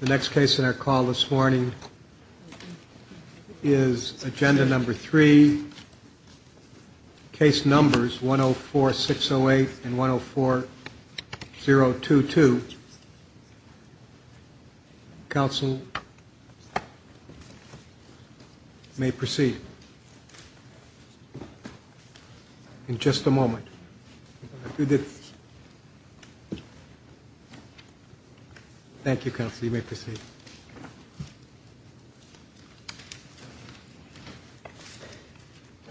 The next case in our call this morning is Agenda Number 3, Case Numbers 104608 and 104022. Counsel may proceed. In just a moment. Thank you, Counsel. You may proceed.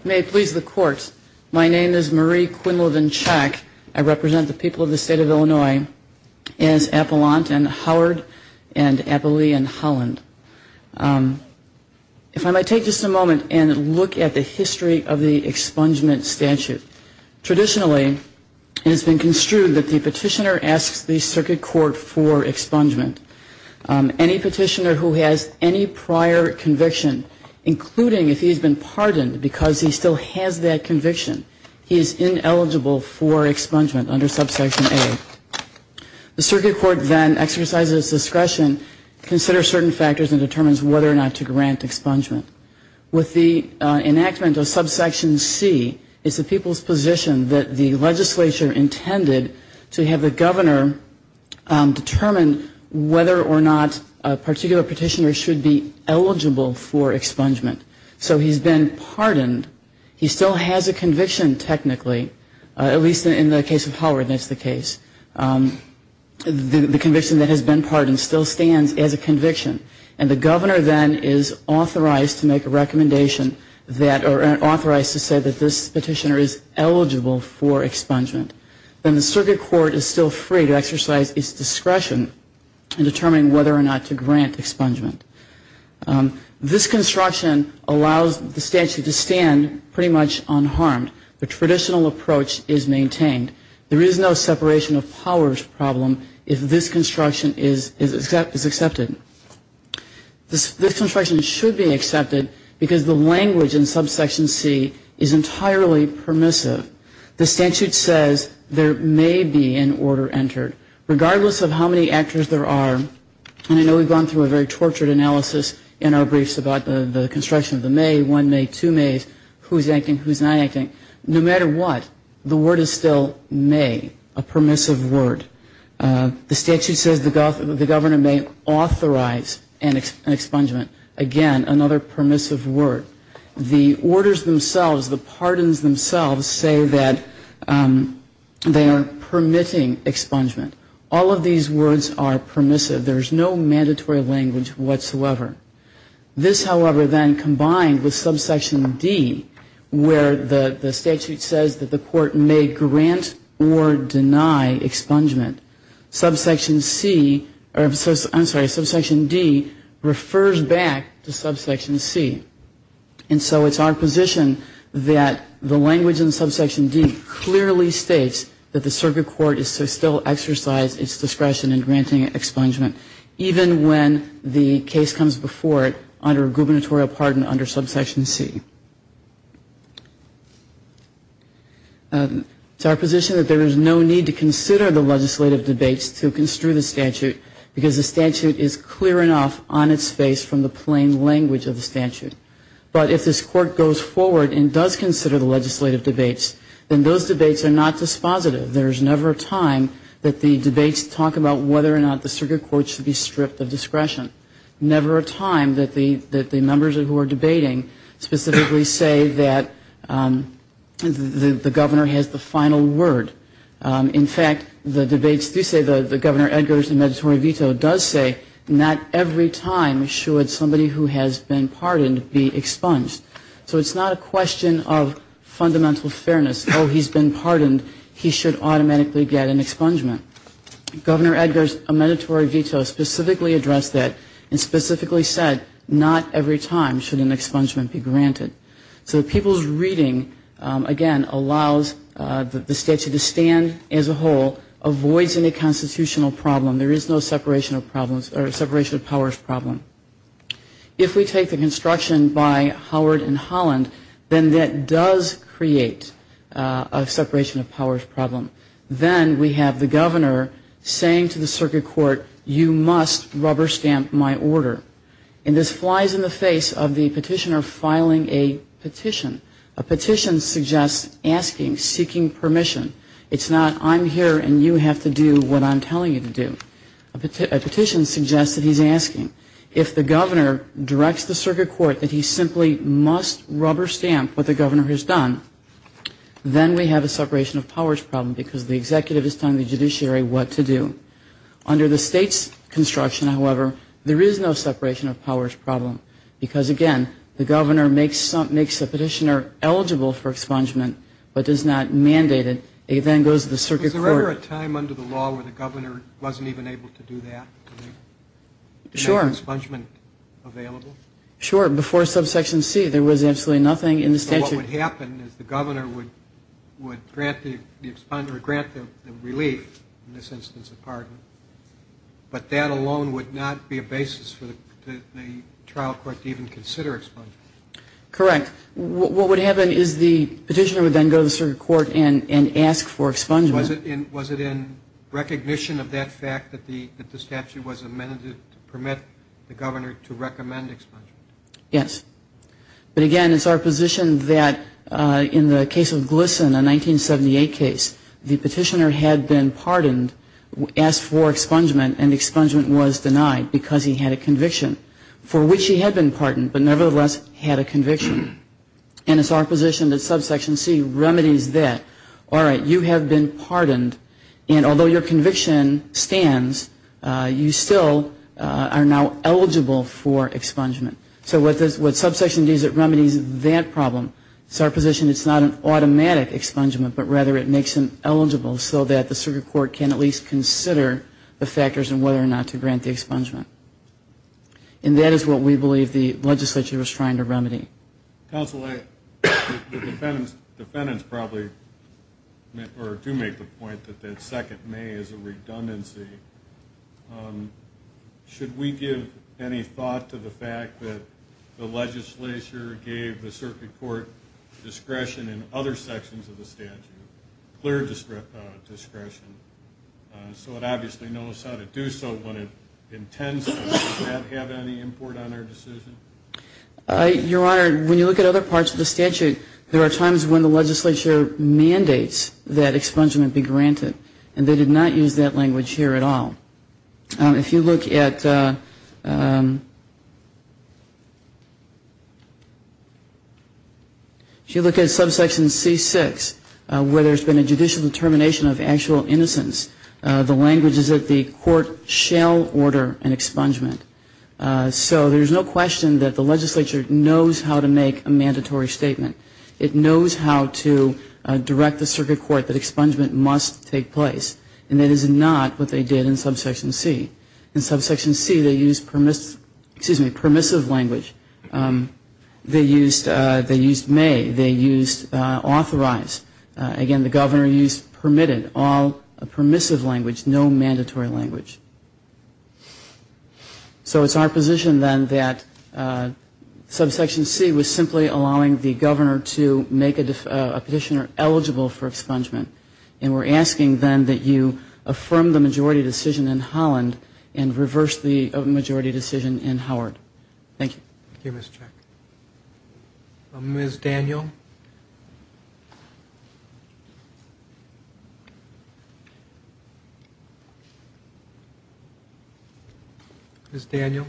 Marie Quinlivan-Chack May it please the Court, my name is Marie Quinlivan-Chack. I represent the people of the state of Illinois as Appellant and Howard and Appellee and Holland. If I might take just a moment and look at the history of the expungement statute. Traditionally it has been construed that the petitioner asks the circuit court for expungement. Any petitioner who has any prior conviction, including if he's been pardoned because he still has that conviction, he is ineligible for expungement under Subsection A. The circuit court then exercises discretion, considers certain factors and determines whether or not to grant expungement. With the enactment of Subsection C, it's the people's position that the legislature intended to have the governor determine whether or not a particular petitioner should be eligible for expungement. So he's been pardoned, he still has a conviction technically, at least in the case of Howard that's the case. The conviction that has been pardoned still stands as a conviction. And the governor then is authorized to make a recommendation that or authorized to say that this petitioner is eligible for expungement. Then the circuit court is still free to exercise its discretion in determining whether or not to grant expungement. This construction allows the statute to stand pretty much unharmed. The traditional approach is maintained. There is no separation of powers problem if this construction is accepted. This construction should be accepted because the language in Subsection C is entirely permissive. The statute says there may be an order entered. Regardless of how many actors there are, and I know we've gone through a very tortured analysis in our briefs about the construction of the may, one may, two mays, who's acting, who's not acting. No matter what, the word is still may, a permissive word. The statute says the governor may authorize an expungement. Again, another permissive word. The orders themselves, the pardons themselves say that they are permitting expungement. All of these words are permissive. There is no mandatory language whatsoever. This, however, then combined with Subsection D where the statute says that the court may grant or deny expungement, Subsection C, I'm sorry, Subsection D refers back to the statute that clearly states that the circuit court is to still exercise its discretion in granting expungement even when the case comes before it under a gubernatorial pardon under Subsection C. It's our position that there is no need to consider the legislative debates to construe the statute because the statute is clear enough on its face from the plain language of the statute. But if this court goes forward and does consider the legislative debates, then those debates are not dispositive. There's never a time that the debates talk about whether or not the circuit court should be stripped of discretion. Never a time that the members who are debating specifically say that the governor has the final word. In fact, the debates do say, the Governor Edgar's mandatory veto does say, not every time should somebody who has been pardoned be expunged. So it's not a question of fundamental fairness. Oh, he's been pardoned, he should automatically get an expungement. Governor Edgar's mandatory veto specifically addressed that and specifically said, not every time should an expungement be granted. So the people's reading, again, allows the statute to stand as a whole, avoids any constitutional problem. There is no separation of powers problem. If we take the construction by Howard and Holland, then that does create a separation of powers problem. Then we have the governor saying to the circuit court, you must rubber stamp my order. And this flies in the face of the petitioner filing a petition. A petition suggests asking, seeking permission. It's not, I'm here and you have to do what I'm asking. If the governor directs the circuit court that he simply must rubber stamp what the governor has done, then we have a separation of powers problem because the executive is telling the judiciary what to do. Under the state's construction, however, there is no separation of powers problem because, again, the governor makes the petitioner eligible for expungement but does not mandate it. It then goes to the circuit court. Is there ever a time under the law where the governor wasn't even able to do that? Sure. Make expungement available? Sure. Before subsection C, there was absolutely nothing in the statute. So what would happen is the governor would grant the relief, in this instance a pardon, but that alone would not be a basis for the trial court to even consider expungement? Correct. What would happen is the petitioner would then go to the circuit court and ask for expungement. Was it in recognition of that fact that the statute was amended to permit the governor to recommend expungement? Yes. But, again, it's our position that in the case of Glisson, a 1978 case, the petitioner had been pardoned, asked for expungement and expungement was denied because he had a conviction for which he had been pardoned but nevertheless had a conviction. And it's our position that subsection C remedies that. All right, you have been pardoned, and although your conviction stands, you still are now eligible for expungement. So what subsection D does is it remedies that problem. It's our position it's not an automatic expungement, but rather it makes him eligible so that the circuit court can at least consider the factors in whether or not to grant the expungement. And that is what we believe the legislature was trying to remedy. Counsel, the defendants probably do make the point that that second may is a redundancy. Should we give any thought to the fact that the legislature gave the circuit court discretion in other sections of the statute, clear discretion, so it obviously knows how to do so when it intends to. Does that have any import on our decision? Your Honor, when you look at other parts of the statute, there are times when the legislature mandates that expungement be granted, and they did not use that language here at all. If you look at subsection C6, where there has been a judicial determination of actual innocence, the language is that the court shall order an expungement. So there is no question that the legislature knows how to make a mandatory statement. It knows how to direct the circuit court that expungement must take place. And that is not what they did in subsection C. In subsection C, they used permissive language. They used may. They used authorize. Again, the governor used permitted, all permissive language, no mandatory language. So it's our position then that subsection C was simply allowing the governor to make a petitioner eligible for expungement. And we're asking then that you affirm the majority decision in Holland and reverse the majority decision in Howard. Thank you. Thank you, Ms. Check. Ms. Daniel? Ms. Daniel,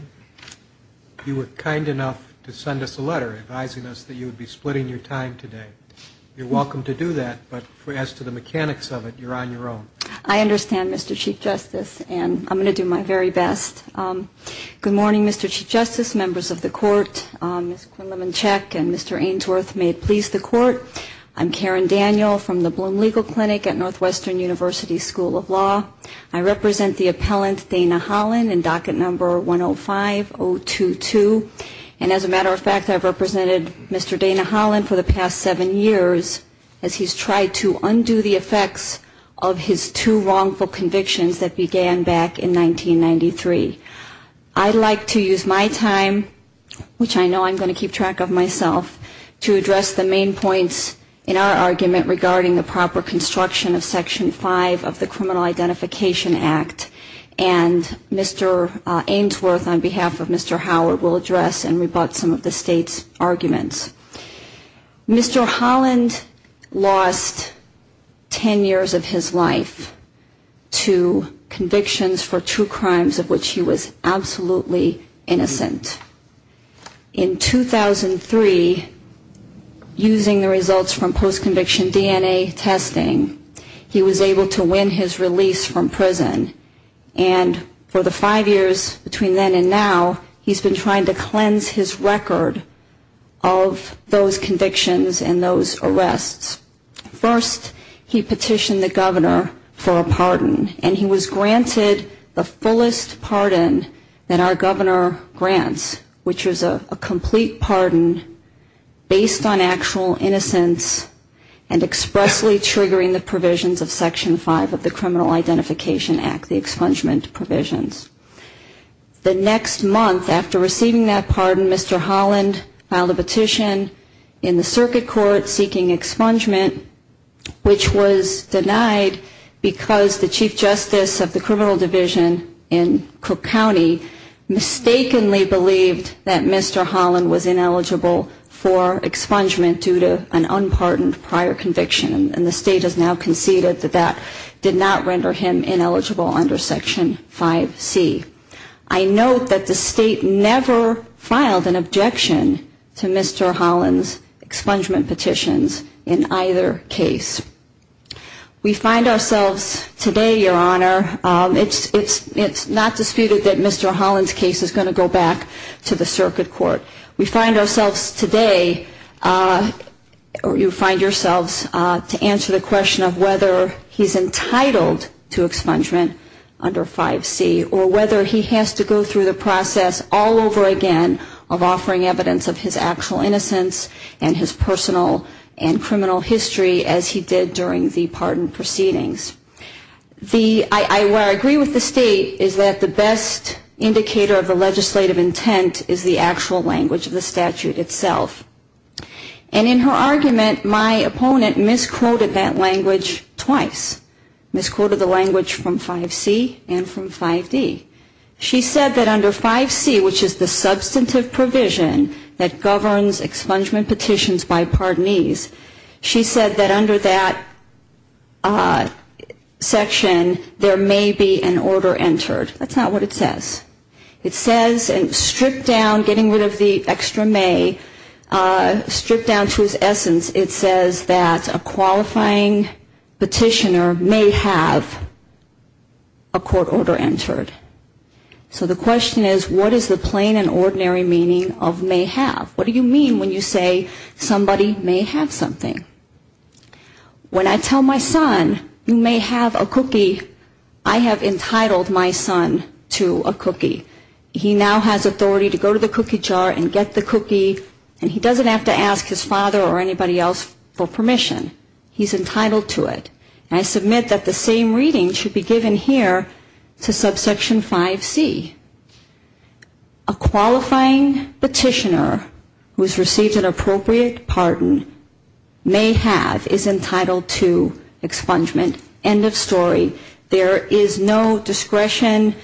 you were kind enough to send us a letter advising us that you would be splitting your time today. You're welcome to do that, but as to the mechanics of it, you're on your own. I understand, Mr. Chief Justice, and I'm going to do my very best. Good morning, Mr. Court. Ms. Quinlivan-Check and Mr. Ainsworth, may it please the Court. I'm Karen Daniel from the Bloom Legal Clinic at Northwestern University School of Law. I represent the appellant Dana Holland in docket number 105-022. And as a matter of fact, I've represented Mr. Dana Holland for the past seven years as he's tried to undo the effects of his two wrongful convictions that began back in 1993. I'd like to use my time, which I know I'm going to keep track of myself, to address the main points in our argument regarding the proper construction of Section 5 of the Criminal Identification Act. And Mr. Ainsworth, on behalf of Mr. Howard, will address and rebut some of the State's arguments. Mr. Holland lost ten years of his life to convictions for two crimes of which he was absolutely innocent. In 2003, using the results from post-conviction DNA testing, he was able to win his release from prison. And for the five years between then and now, he's been trying to cleanse his record of those convictions and those arrests. First, he petitioned the governor for a pardon. And he was granted the fullest pardon that our governor grants, which is a complete pardon based on actual innocence and expressly triggering the provisions of Section 5 of the Criminal Identification Act, the expungement provisions. The next month after receiving that pardon, Mr. Holland filed a petition in the circuit court seeking expungement, which was denied because the chief justice of the criminal division in Cook County mistakenly believed that Mr. Holland was ineligible for expungement due to an unpardoned prior conviction. And the State has now conceded that that did not occur. Mr. Holland's case is going to go back to the circuit court. We find ourselves today, or you find yourselves to answer the question of whether he's entitled to expungement under 5C, or whether he's entitled to expungement under 5D, or whether he has to go through the process all over again of offering evidence of his actual innocence and his personal and criminal history as he did during the pardon proceedings. I agree with the State is that the best indicator of the legislative intent is the actual language of the statute itself. And in her argument, my opponent misquoted that language twice, misquoted the language from 5C and from 5D. She said that under 5C, which is the substantive provision that governs expungement petitions by pardonese, she said that under that section there may be an order entered. That's not what it says. It says, and stripped down, getting rid of the extra may, stripped down to its essence, it says that a qualifying petitioner may have a court order entered. So the question is, what is the plain and ordinary meaning of may have? What do you mean when you say somebody may have something? When I tell my son, you may have a cookie, I have entitled my son to a cookie. He now has authority to go to the cookie jar and get the cookie, and he doesn't have to ask his father or anybody else for permission. He's entitled to it. And I submit that the same reading should be given here to subsection 5C. A qualifying petitioner who has received an appropriate pardon may have is entitled to expungement. End of story. There is no discretion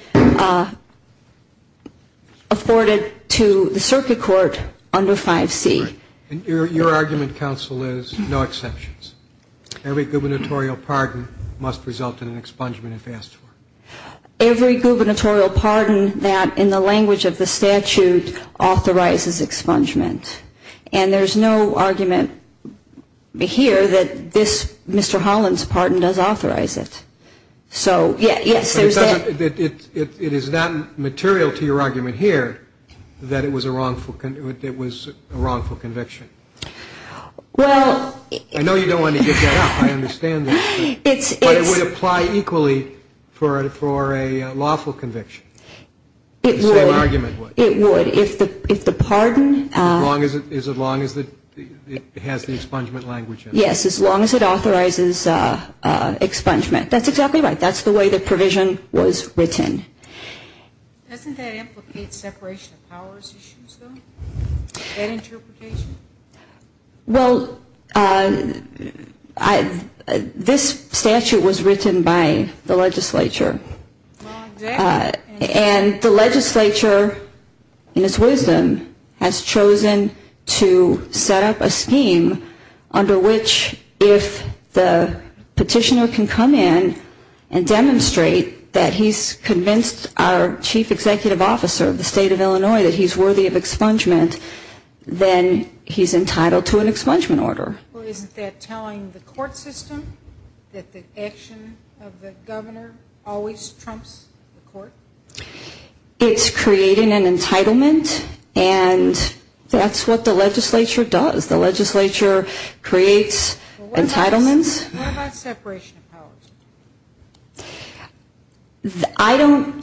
afforded to the circuit court under 5C. And your argument, counsel, is no exceptions. Every gubernatorial pardon must result in an expungement if asked for. Every gubernatorial pardon that in the language of the statute authorizes expungement. And there's no argument here that this Mr. Holland's pardon does authorize it. So, yes, there's that. It is not material to your argument here that it was a wrongful conviction. I know you don't want to get that up. I understand that. But it would apply equally for a lawful conviction. The same argument would. As long as it has the expungement language in it. Yes, as long as it authorizes expungement. That's exactly right. That's the way the provision was written. Doesn't that implicate separation of powers issues, though? That interpretation? Well, this statute was written by the legislature. And the legislature, in its wisdom, has chosen to set up a scheme under which if the petitioner can come in and demonstrate that he's convinced our chief executive officer of the state of Illinois that he's entitled to an expungement order. Well, isn't that telling the court system that the action of the governor always trumps the court? It's creating an entitlement. And that's what the legislature does. The legislature creates entitlements. What about separation of powers? I don't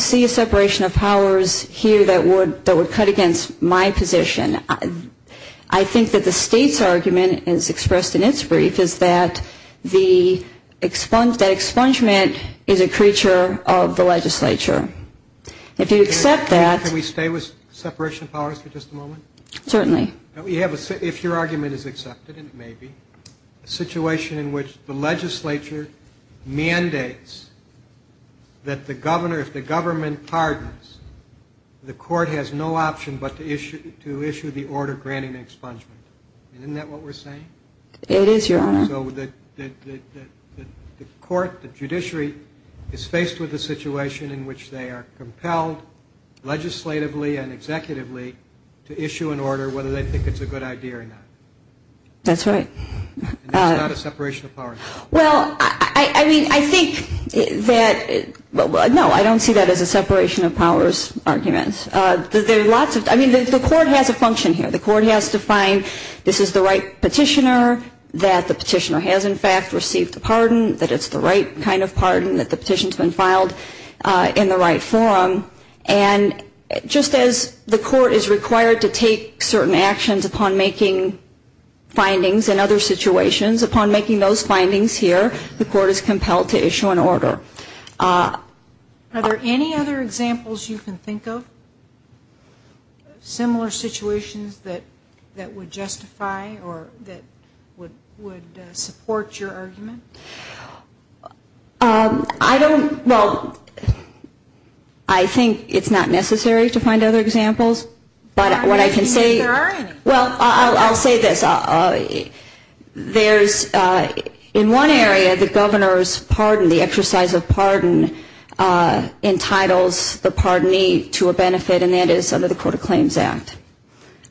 see a separation of powers here that would cut against my position. I think that the state's argument, as expressed in its brief, is that expungement is a creature of the legislature. If you accept that Can we stay with separation of powers for just a moment? Certainly. If your argument is accepted, and it may be, a situation in which the legislature mandates that the governor, if the government pardons, the court has no option but to issue the order granting expungement. Isn't that what we're saying? It is, Your Honor. So the court, the judiciary, is faced with a situation in which they are compelled, legislatively and executively, to issue an order, whether they think it's a good idea or not. That's right. It's not a separation of powers. Well, I mean, I think that, no, I don't see that as a separation of powers argument. There are lots of, I mean, the court has a function here. The court has to find this is the right petitioner, that the petitioner has, in fact, received a pardon, that it's the And the court has to make certain actions upon making findings in other situations. Upon making those findings here, the court is compelled to issue an order. Are there any other examples you can think of, similar situations that would justify or that would support your argument? I don't, well, I think it's not necessary to find other examples, but what I can say Well, I'll say this. There's, in one area, the governor's pardon, the exercise of pardon, entitles the pardonee to a benefit, and that is under the Court of Claims Act.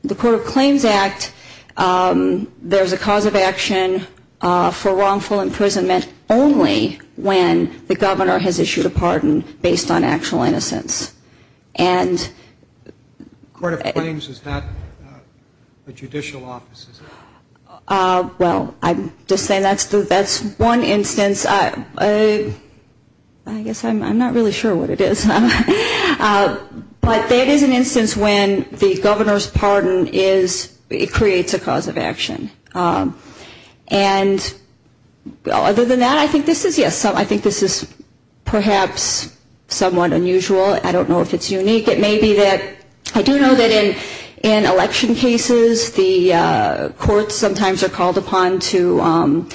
The Court of Claims Act, there's a cause of action for wrongful imprisonment. Only when the governor has issued a pardon based on actual innocence. And The Court of Claims is not a judicial office, is it? Well, I'm just saying that's one instance. I guess I'm not really sure what it is. But that is an instance when the governor's pardon is, it creates a cause of action. And other than that, I think this is, yes, I think this is perhaps somewhat unusual. I don't know if it's unique. It may be that, I do know that in election cases, the courts sometimes are called upon to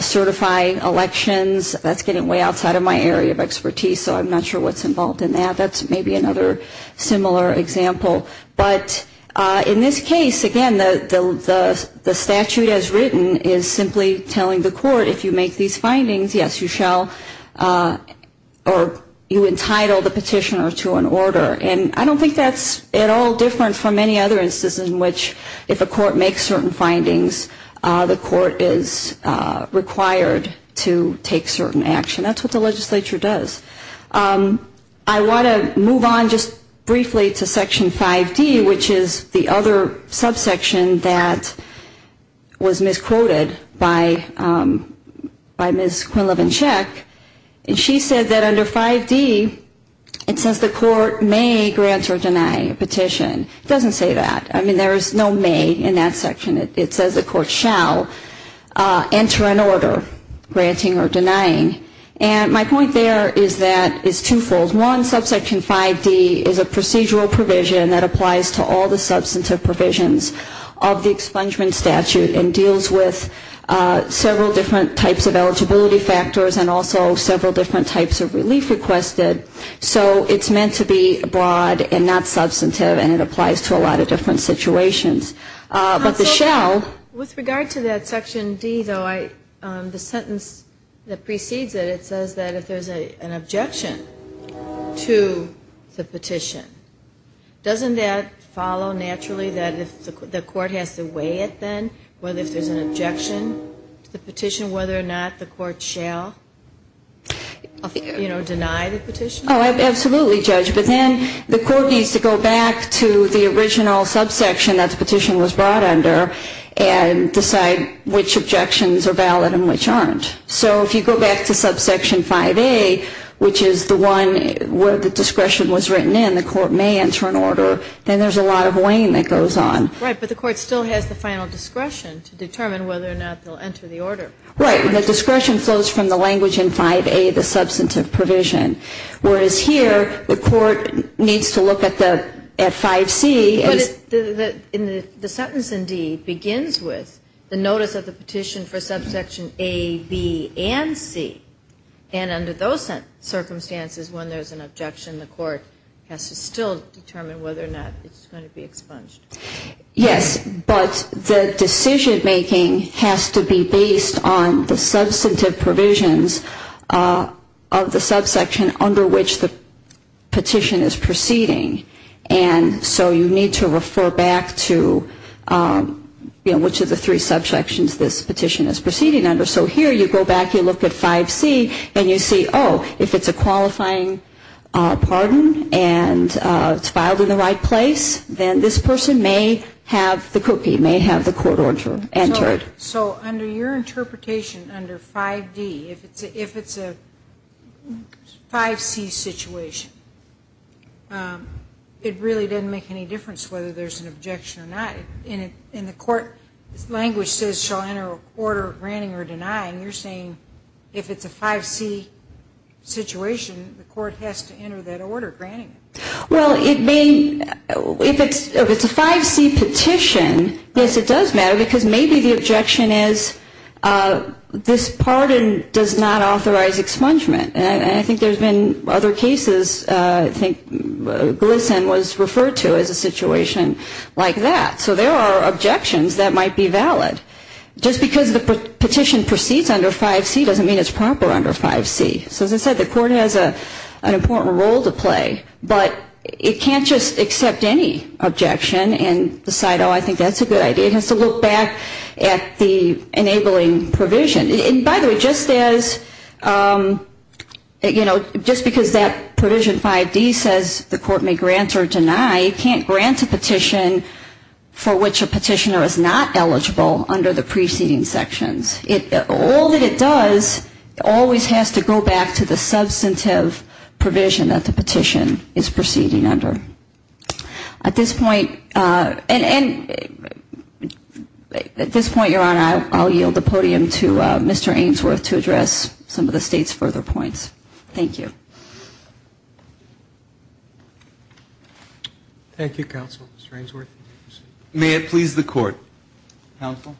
certify elections. That's getting way outside of my area of expertise, so I'm not sure what's involved in that. That's maybe another similar example. But in this case, again, the statute as written is simply telling the court if you make these findings, yes, you shall or you entitle the petitioner to an order. And I don't think that's at all different from any other instance in which if a court makes certain findings, the court is required to take certain action. That's what the legislature does. I want to move on just briefly to Section 5D, which is the other subsection that was misquoted by Ms. Quinlivan-Chek. And she said that under 5D, it says the court may grant or deny a petition. It doesn't say that. I mean, there is no may in that section. It says the court shall enter an order, granting or denying. And my point there is that it's twofold. One, Subsection 5D is a procedural provision that applies to all the substantive provisions of the expungement statute and deals with several different types of eligibility factors and also several different types of relief requested. So it's meant to be broad and not substantive, and it applies to a lot of different situations. But the shall. With regard to that Section D, though, the sentence that precedes it, it says that if there's an objection to the petition, doesn't that follow naturally that if the court has to weigh it then, whether if there's an objection to the petition, whether or not the court shall, you know, deny the petition? Oh, absolutely, Judge. But then the court needs to go back to the original subsection that the petition was brought under and decide which objections are valid and which aren't. So if you go back to Subsection 5A, which is the one where the discretion was written in, the court may enter an order, then there's a lot of weighing that goes on. Right. But the court still has the final discretion to determine whether or not they'll enter the order. Right. The discretion flows from the language in 5A, the substantive provision, whereas here the court needs to look at 5C. But the sentence in D begins with the notice of the petition for Subsection A, B, and C. And under those circumstances, when there's an objection, the court has to still determine whether or not it's going to be expunged. Yes. But the decision-making has to be based on the substantive provisions of the subsection under which the petition is proceeding. And so you need to refer back to, you know, which of the three subsections this petition is proceeding under. So here you go back, you look at 5C, and you see, oh, if it's a qualifying pardon, and it's filed in the right place, then this person may have the copy, may have the court order entered. So under your interpretation, under 5D, if it's a 5C situation, the court has to determine whether or not the petition is expunged. It really doesn't make any difference whether there's an objection or not. In the court language says shall enter a court order granting or denying, you're saying if it's a 5C situation, the court has to enter that order granting it. Well, if it's a 5C petition, yes, it does matter, because maybe the objection is this pardon does not authorize expungement. And I think there's been other cases I think GLSEN was referred to as a situation like that. So there are objections that might be valid. Just because the petition proceeds under 5C doesn't mean it's proper under 5C. So as I said, the court has an important role to play, but it can't just accept any objection and decide, oh, I think that's a good idea. It has to look back at the enabling provision. And by the way, just as, you know, just because that provision 5D says the court may grant or deny, it can't grant a petition for which a petitioner is not eligible under the preceding sections. All that it does always has to go back to the substantive provision that the petition is proceeding under. At this point, and at this point, Your Honor, I'll yield the podium to Mr. Ainsworth to address some of the State's further points. Thank you. Thank you, Counsel. Mr. Ainsworth. May it please the Court. Counsel?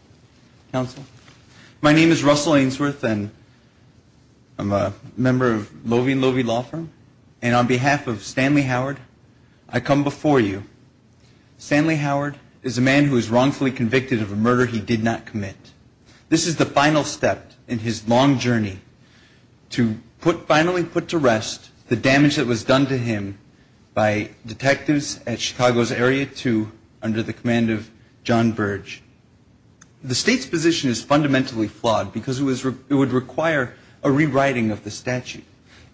Counsel? My name is Russell Ainsworth, and I'm a member of Loewe & Loewe Law Firm. And on behalf of Stanley Howard, I come before you. Stanley Howard is a man who is wrongfully convicted of a murder he did not commit. This is the final step in his long journey to finally put to rest the damage that was done to him by detectives at Chicago's Area 2 under the command of John Burge. The State's position is fundamentally flawed because it would require a rewriting of the statute.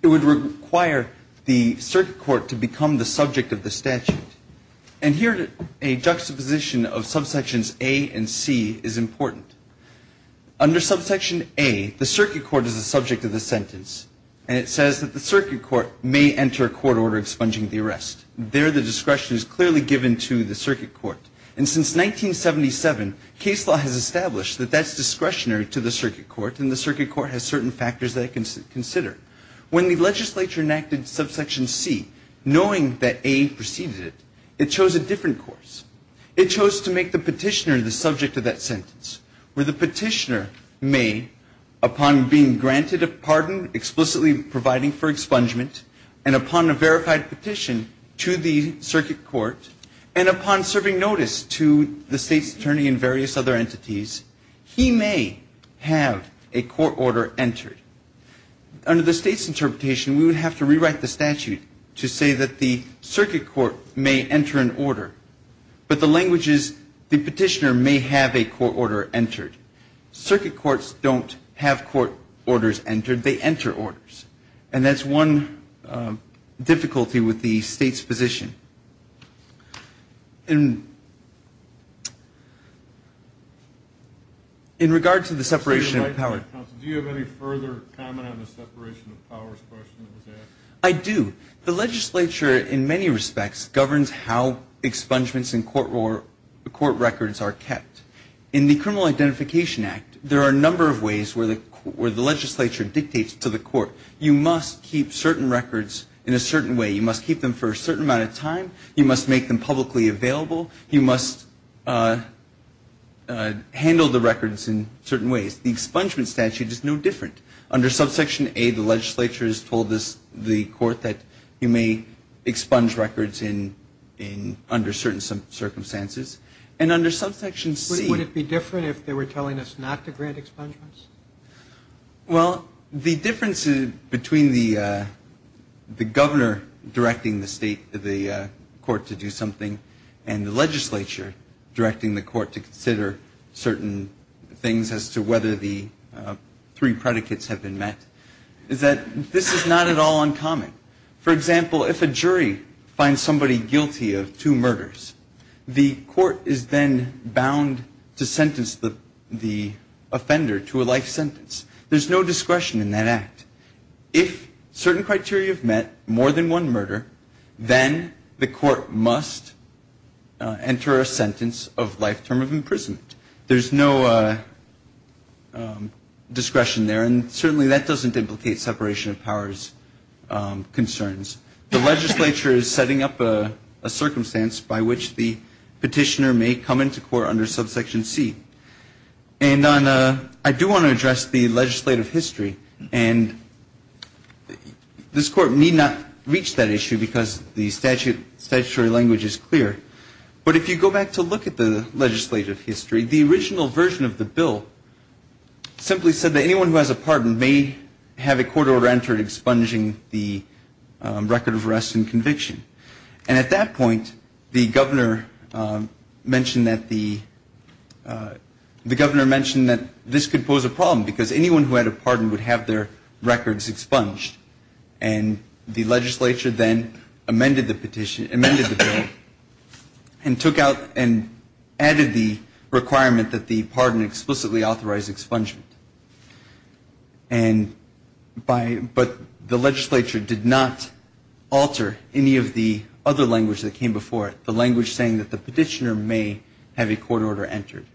It would require the circuit court to become the subject of the statute. And here a juxtaposition of subsections A and C is important. Under subsection A, the circuit court is the subject of the sentence, and it says that the circuit court may enter a court order expunging the arrest. There, the discretion is clearly given to the circuit court. And since 1977, case law has established that that's discretionary to the circuit court, and the circuit court has certain factors that it can consider. When the legislature enacted subsection C, the court decided to make the petitioner the subject of that sentence, where the petitioner may, upon being granted a pardon, explicitly providing for expungement, and upon a verified petition to the circuit court, and upon serving notice to the State's attorney and various other entities, he may have a court order entered. Under the State's interpretation, we would have to rewrite the statute to say that the circuit court may enter an order, but the language is the petitioner may have a court order entered. Circuit courts don't have court orders entered. They enter orders. And that's one difficulty with the State's position. In regard to the separation of powers. Do you have any further comment on the separation of powers question that was asked? I do. The legislature, in many respects, governs how expungements and court records are kept. In the Criminal Identification Act, there are a number of ways where the legislature dictates to the court, you must keep certain records in a certain way. You must keep them for a certain amount of time. You must make them publicly available. You must handle the records in certain ways. The expungements statute is no different. Under subsection A, the legislature has told the court that you may expunge records under certain circumstances. And under subsection C. Would it be different if they were telling us not to grant expungements? Well, the difference between the governor directing the court to do something and the legislature directing the court to consider certain things as to whether the three predicates have been met is that this is not at all uncommon. For example, if a jury finds somebody guilty of two murders, the court is then bound to sentence the offender to a life sentence. There's no discretion in that act. If certain criteria have met, more than one murder, then the court must enter a sentence of life term of imprisonment. There's no discretion there. And certainly that doesn't implicate separation of powers concerns. The legislature is setting up a circumstance by which the petitioner may come into court under subsection C. And I do want to address the legislative history. And this court need not reach that issue because the statutory language is clear. But if you go back to look at the legislative history, the original version of the bill simply said that anyone who has a pardon may have a court order entered expunging the record of arrest and conviction. And at that point, the governor mentioned that the governor mentioned that this could pose a problem because anyone who had a pardon would have their records expunged. And the legislature then amended the petition, amended the bill. And took out and added the requirement that the pardon explicitly authorize expungement. And by the legislature did not alter any of the other language that came before it, the language saying that the petitioner may have a court order entered.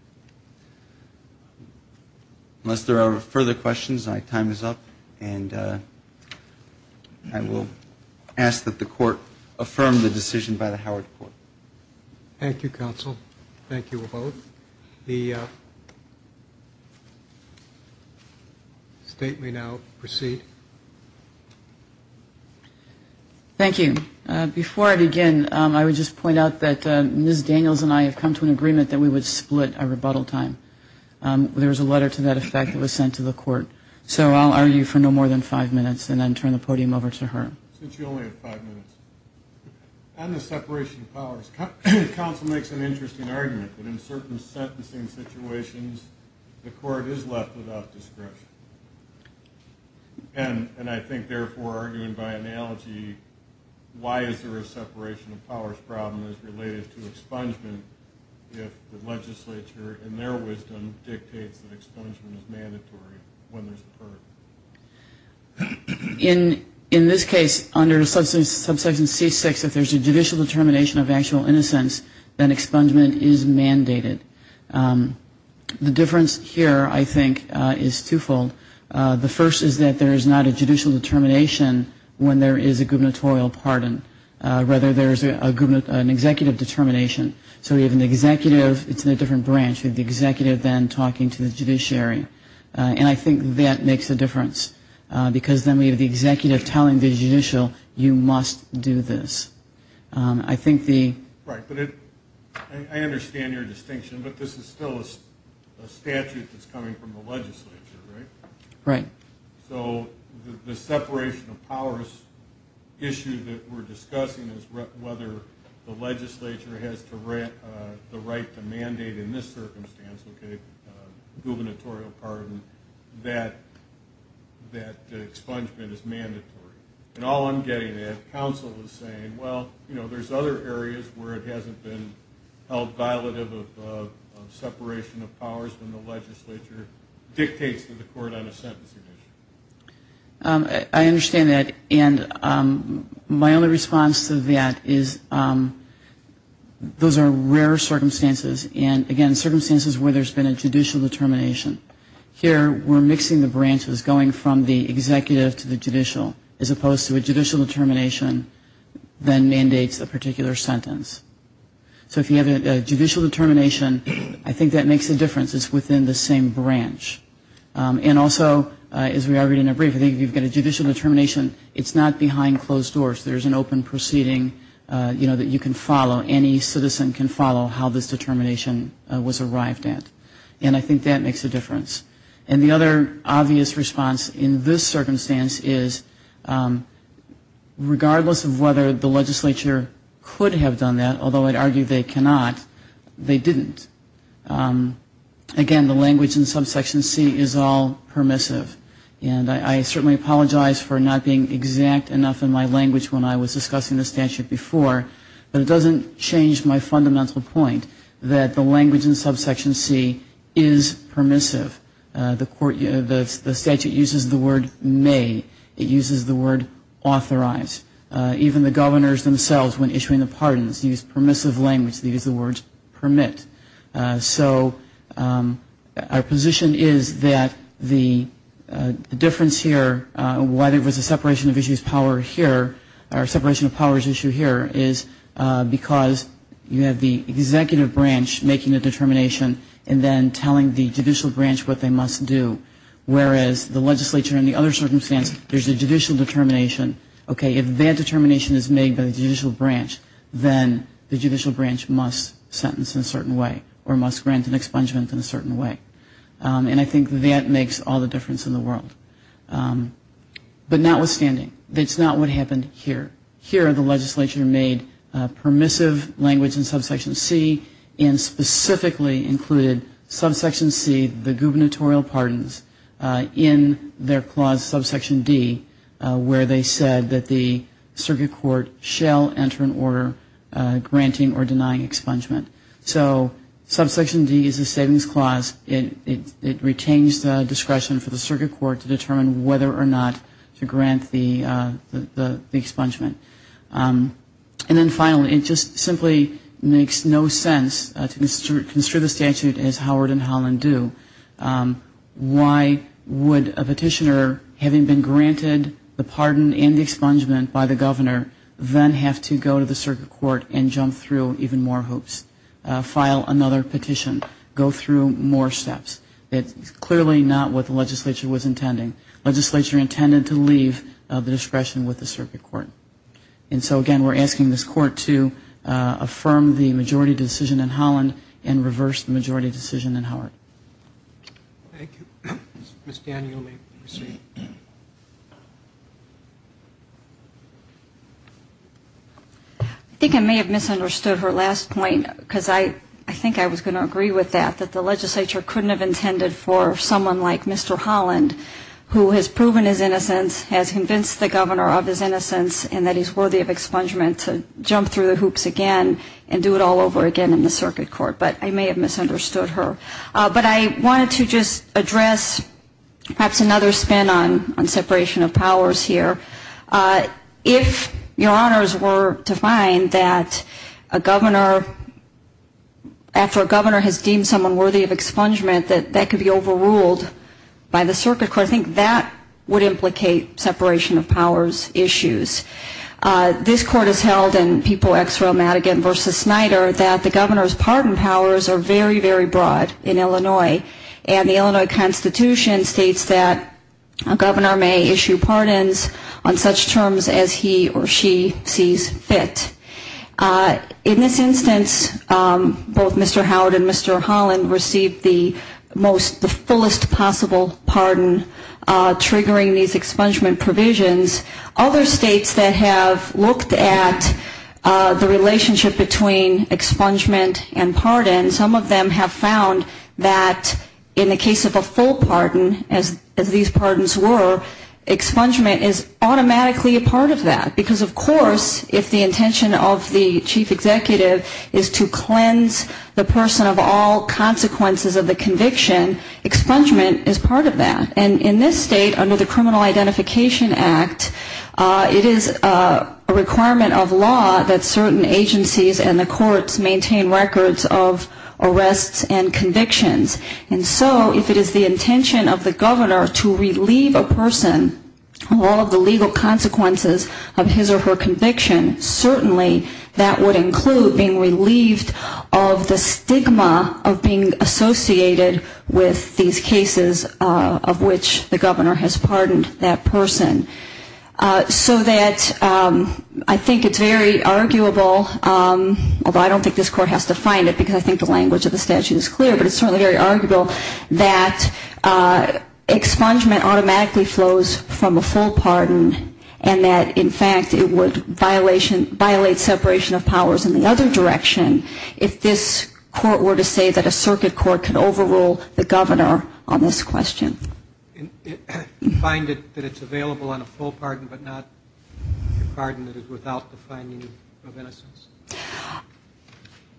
Unless there are further questions, my time is up. And I will ask that the court affirm the decision by the Howard Court. Thank you, counsel. Thank you, both. The state may now proceed. Thank you. Before I begin, I would just point out that Ms. Daniels and I have come to an agreement that we would split our rebuttal time. There was a letter to that effect that was sent to the court. So I'll argue for no more than five minutes and then turn the podium over to her. Since you only have five minutes. On the separation of powers, counsel makes an interesting argument. That in certain sentencing situations, the court is left without discretion. And I think therefore, arguing by analogy, why is there a separation of powers problem as related to expungement if the legislature, in their wisdom, dictates that expungement is mandatory when there's a pardon? In this case, under subsection C6, if there's a judicial determination of actual innocence, then expungement is mandated. The difference here, I think, is twofold. The first is that there is not a judicial determination when there is a gubernatorial pardon. Rather, there is an executive determination. So we have an executive, it's in a different branch. You have the executive then talking to the judiciary. And I think that makes a difference. Because then we have the executive telling the judicial, you must do this. I think the... Right. But I understand your distinction, but this is still a statute that's coming from the legislature, right? Right. So the separation of powers issue that we're discussing is whether the legislature has the right to mandate in this circumstance, gubernatorial pardon, that expungement is mandatory. And all I'm getting at, counsel is saying, well, there's other areas where it hasn't been held violative of separation of powers. I understand that. And my only response to that is those are rare circumstances. And, again, circumstances where there's been a judicial determination. Here we're mixing the branches, going from the executive to the judicial, as opposed to a judicial determination that mandates a particular sentence. So if you have a judicial determination, I think that makes a difference. It's within the same branch. And also, as we argued in a brief, I think if you've got a judicial determination, it's not behind closed doors. There's an open proceeding that you can follow, any citizen can follow how this determination was arrived at. And I think that makes a difference. And the other obvious response in this circumstance is, regardless of whether the legislature could have done that, although I'd argue that the language in subsection C is all permissive. And I certainly apologize for not being exact enough in my language when I was discussing the statute before, but it doesn't change my fundamental point that the language in subsection C is permissive. The statute uses the word may. It uses the word authorize. Even the governors themselves, when issuing the pardons, use permissive language. They use the word permit. So our position is that the difference here, whether it was a separation of issues power here, or a separation of powers issue here, is because you have the executive branch making a determination and then telling the judicial branch what they must do. Whereas the legislature in the other circumstance, there's a judicial determination. Okay, if that determination is made by the judicial branch, then the judicial branch must sentence in a certain way. Or must grant an expungement in a certain way. And I think that makes all the difference in the world. But notwithstanding, that's not what happened here. Here the legislature made permissive language in subsection C, and specifically included subsection C, the gubernatorial pardons, in their clause subsection D, where they said that the circuit court shall enter an order granting or denying expungement. So subsection D is a savings clause. It retains the discretion for the circuit court to determine whether or not to grant the expungement. And then finally, it just simply makes no sense to construe the statute as Howard and Holland do. Why would a petitioner, having been granted the pardon and expungement by the governor, then have to go to the circuit court and jump through even more hoops? File another petition? Go through more steps? It's clearly not what the legislature was intending. Legislature intended to leave the discretion with the circuit court. And so again, we're asking this court to affirm the majority decision in Holland and reverse the majority decision in Howard. Thank you. Ms. Daniel, you may proceed. I think I may have misunderstood her last point, because I think I was going to agree with that, that the legislature couldn't have intended for someone like Mr. Holland, who has proven his innocence, has convinced the governor of his innocence, and that he's worthy of expungement to jump through the hoops again and do it all over again in the circuit court. But I may have misunderstood her. But I wanted to just address perhaps another spin on separation of powers here. If your honors were to find that a governor, after a governor has deemed someone worthy of expungement, that that could be overruled by the circuit court, I think that would implicate separation of powers issues. This court has held in People, Exro, Madigan v. Snyder, that the governor's pardon powers are very, very broad in Illinois. And the Illinois Constitution states that a governor may issue pardons on such terms as he or she sees fit. In this instance, both Mr. Howard and Mr. Holland received the most, the fullest possible pardon, triggering these expungement provisions. Other states, however, have looked at the relationship between expungement and pardon. Some of them have found that in the case of a full pardon, as these pardons were, expungement is automatically a part of that. Because, of course, if the intention of the chief executive is to cleanse the person of all consequences of the conviction, expungement is part of that. And in this state, under the Criminal Identification Act, it is a requirement of law that certain agencies and the courts maintain records of arrests and convictions. And so if it is the intention of the governor to relieve a person of all of the legal consequences of his or her conviction, certainly that would include being relieved of the stigma of being associated with these cases of which the governor has pardoned that person. So that I think it's very arguable, although I don't think this court has to find it because I think the language of the statute is clear, but it's certainly very arguable that expungement automatically flows from a full pardon and that, in fact, it would violate separation of powers in the other direction if this court were to say that a circuit court could overrule the governor on the basis of a full pardon. And so I think that's what I would argue on this question. You find that it's available on a full pardon, but not a pardon that is without the finding of innocence?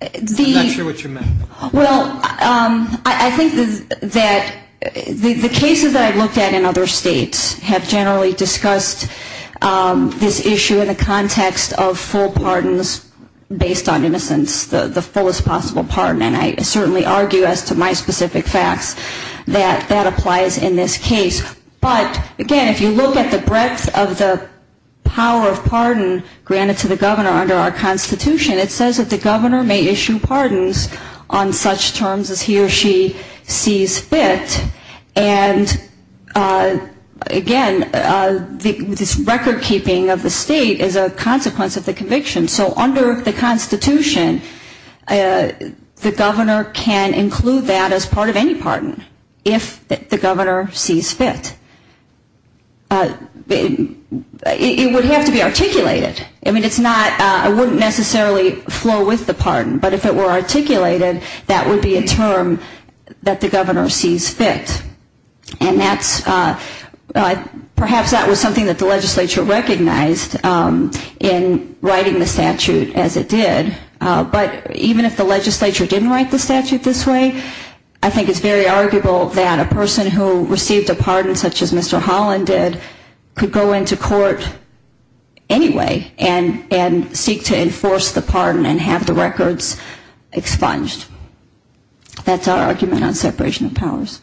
I'm not sure what you meant. Well, I think that the cases that I've looked at in other states have generally discussed this issue in the context of full pardon, and I think that that applies in this case. But, again, if you look at the breadth of the power of pardon granted to the governor under our Constitution, it says that the governor may issue pardons on such terms as he or she sees fit, and, again, this record keeping of the state is a consequence of the conviction. So under the Constitution, the governor can include that as part of any pardon, if the governor sees fit. It would have to be articulated. I mean, it's not, it wouldn't necessarily flow with the pardon, but if it were articulated, that would be a term that the governor sees fit. And that's, perhaps that was something that the legislature recognized in writing the statute. But even if the legislature didn't write the statute this way, I think it's very arguable that a person who received a pardon such as Mr. Holland did could go into court anyway and seek to enforce the pardon and have the records expunged. That's our argument on separation of powers.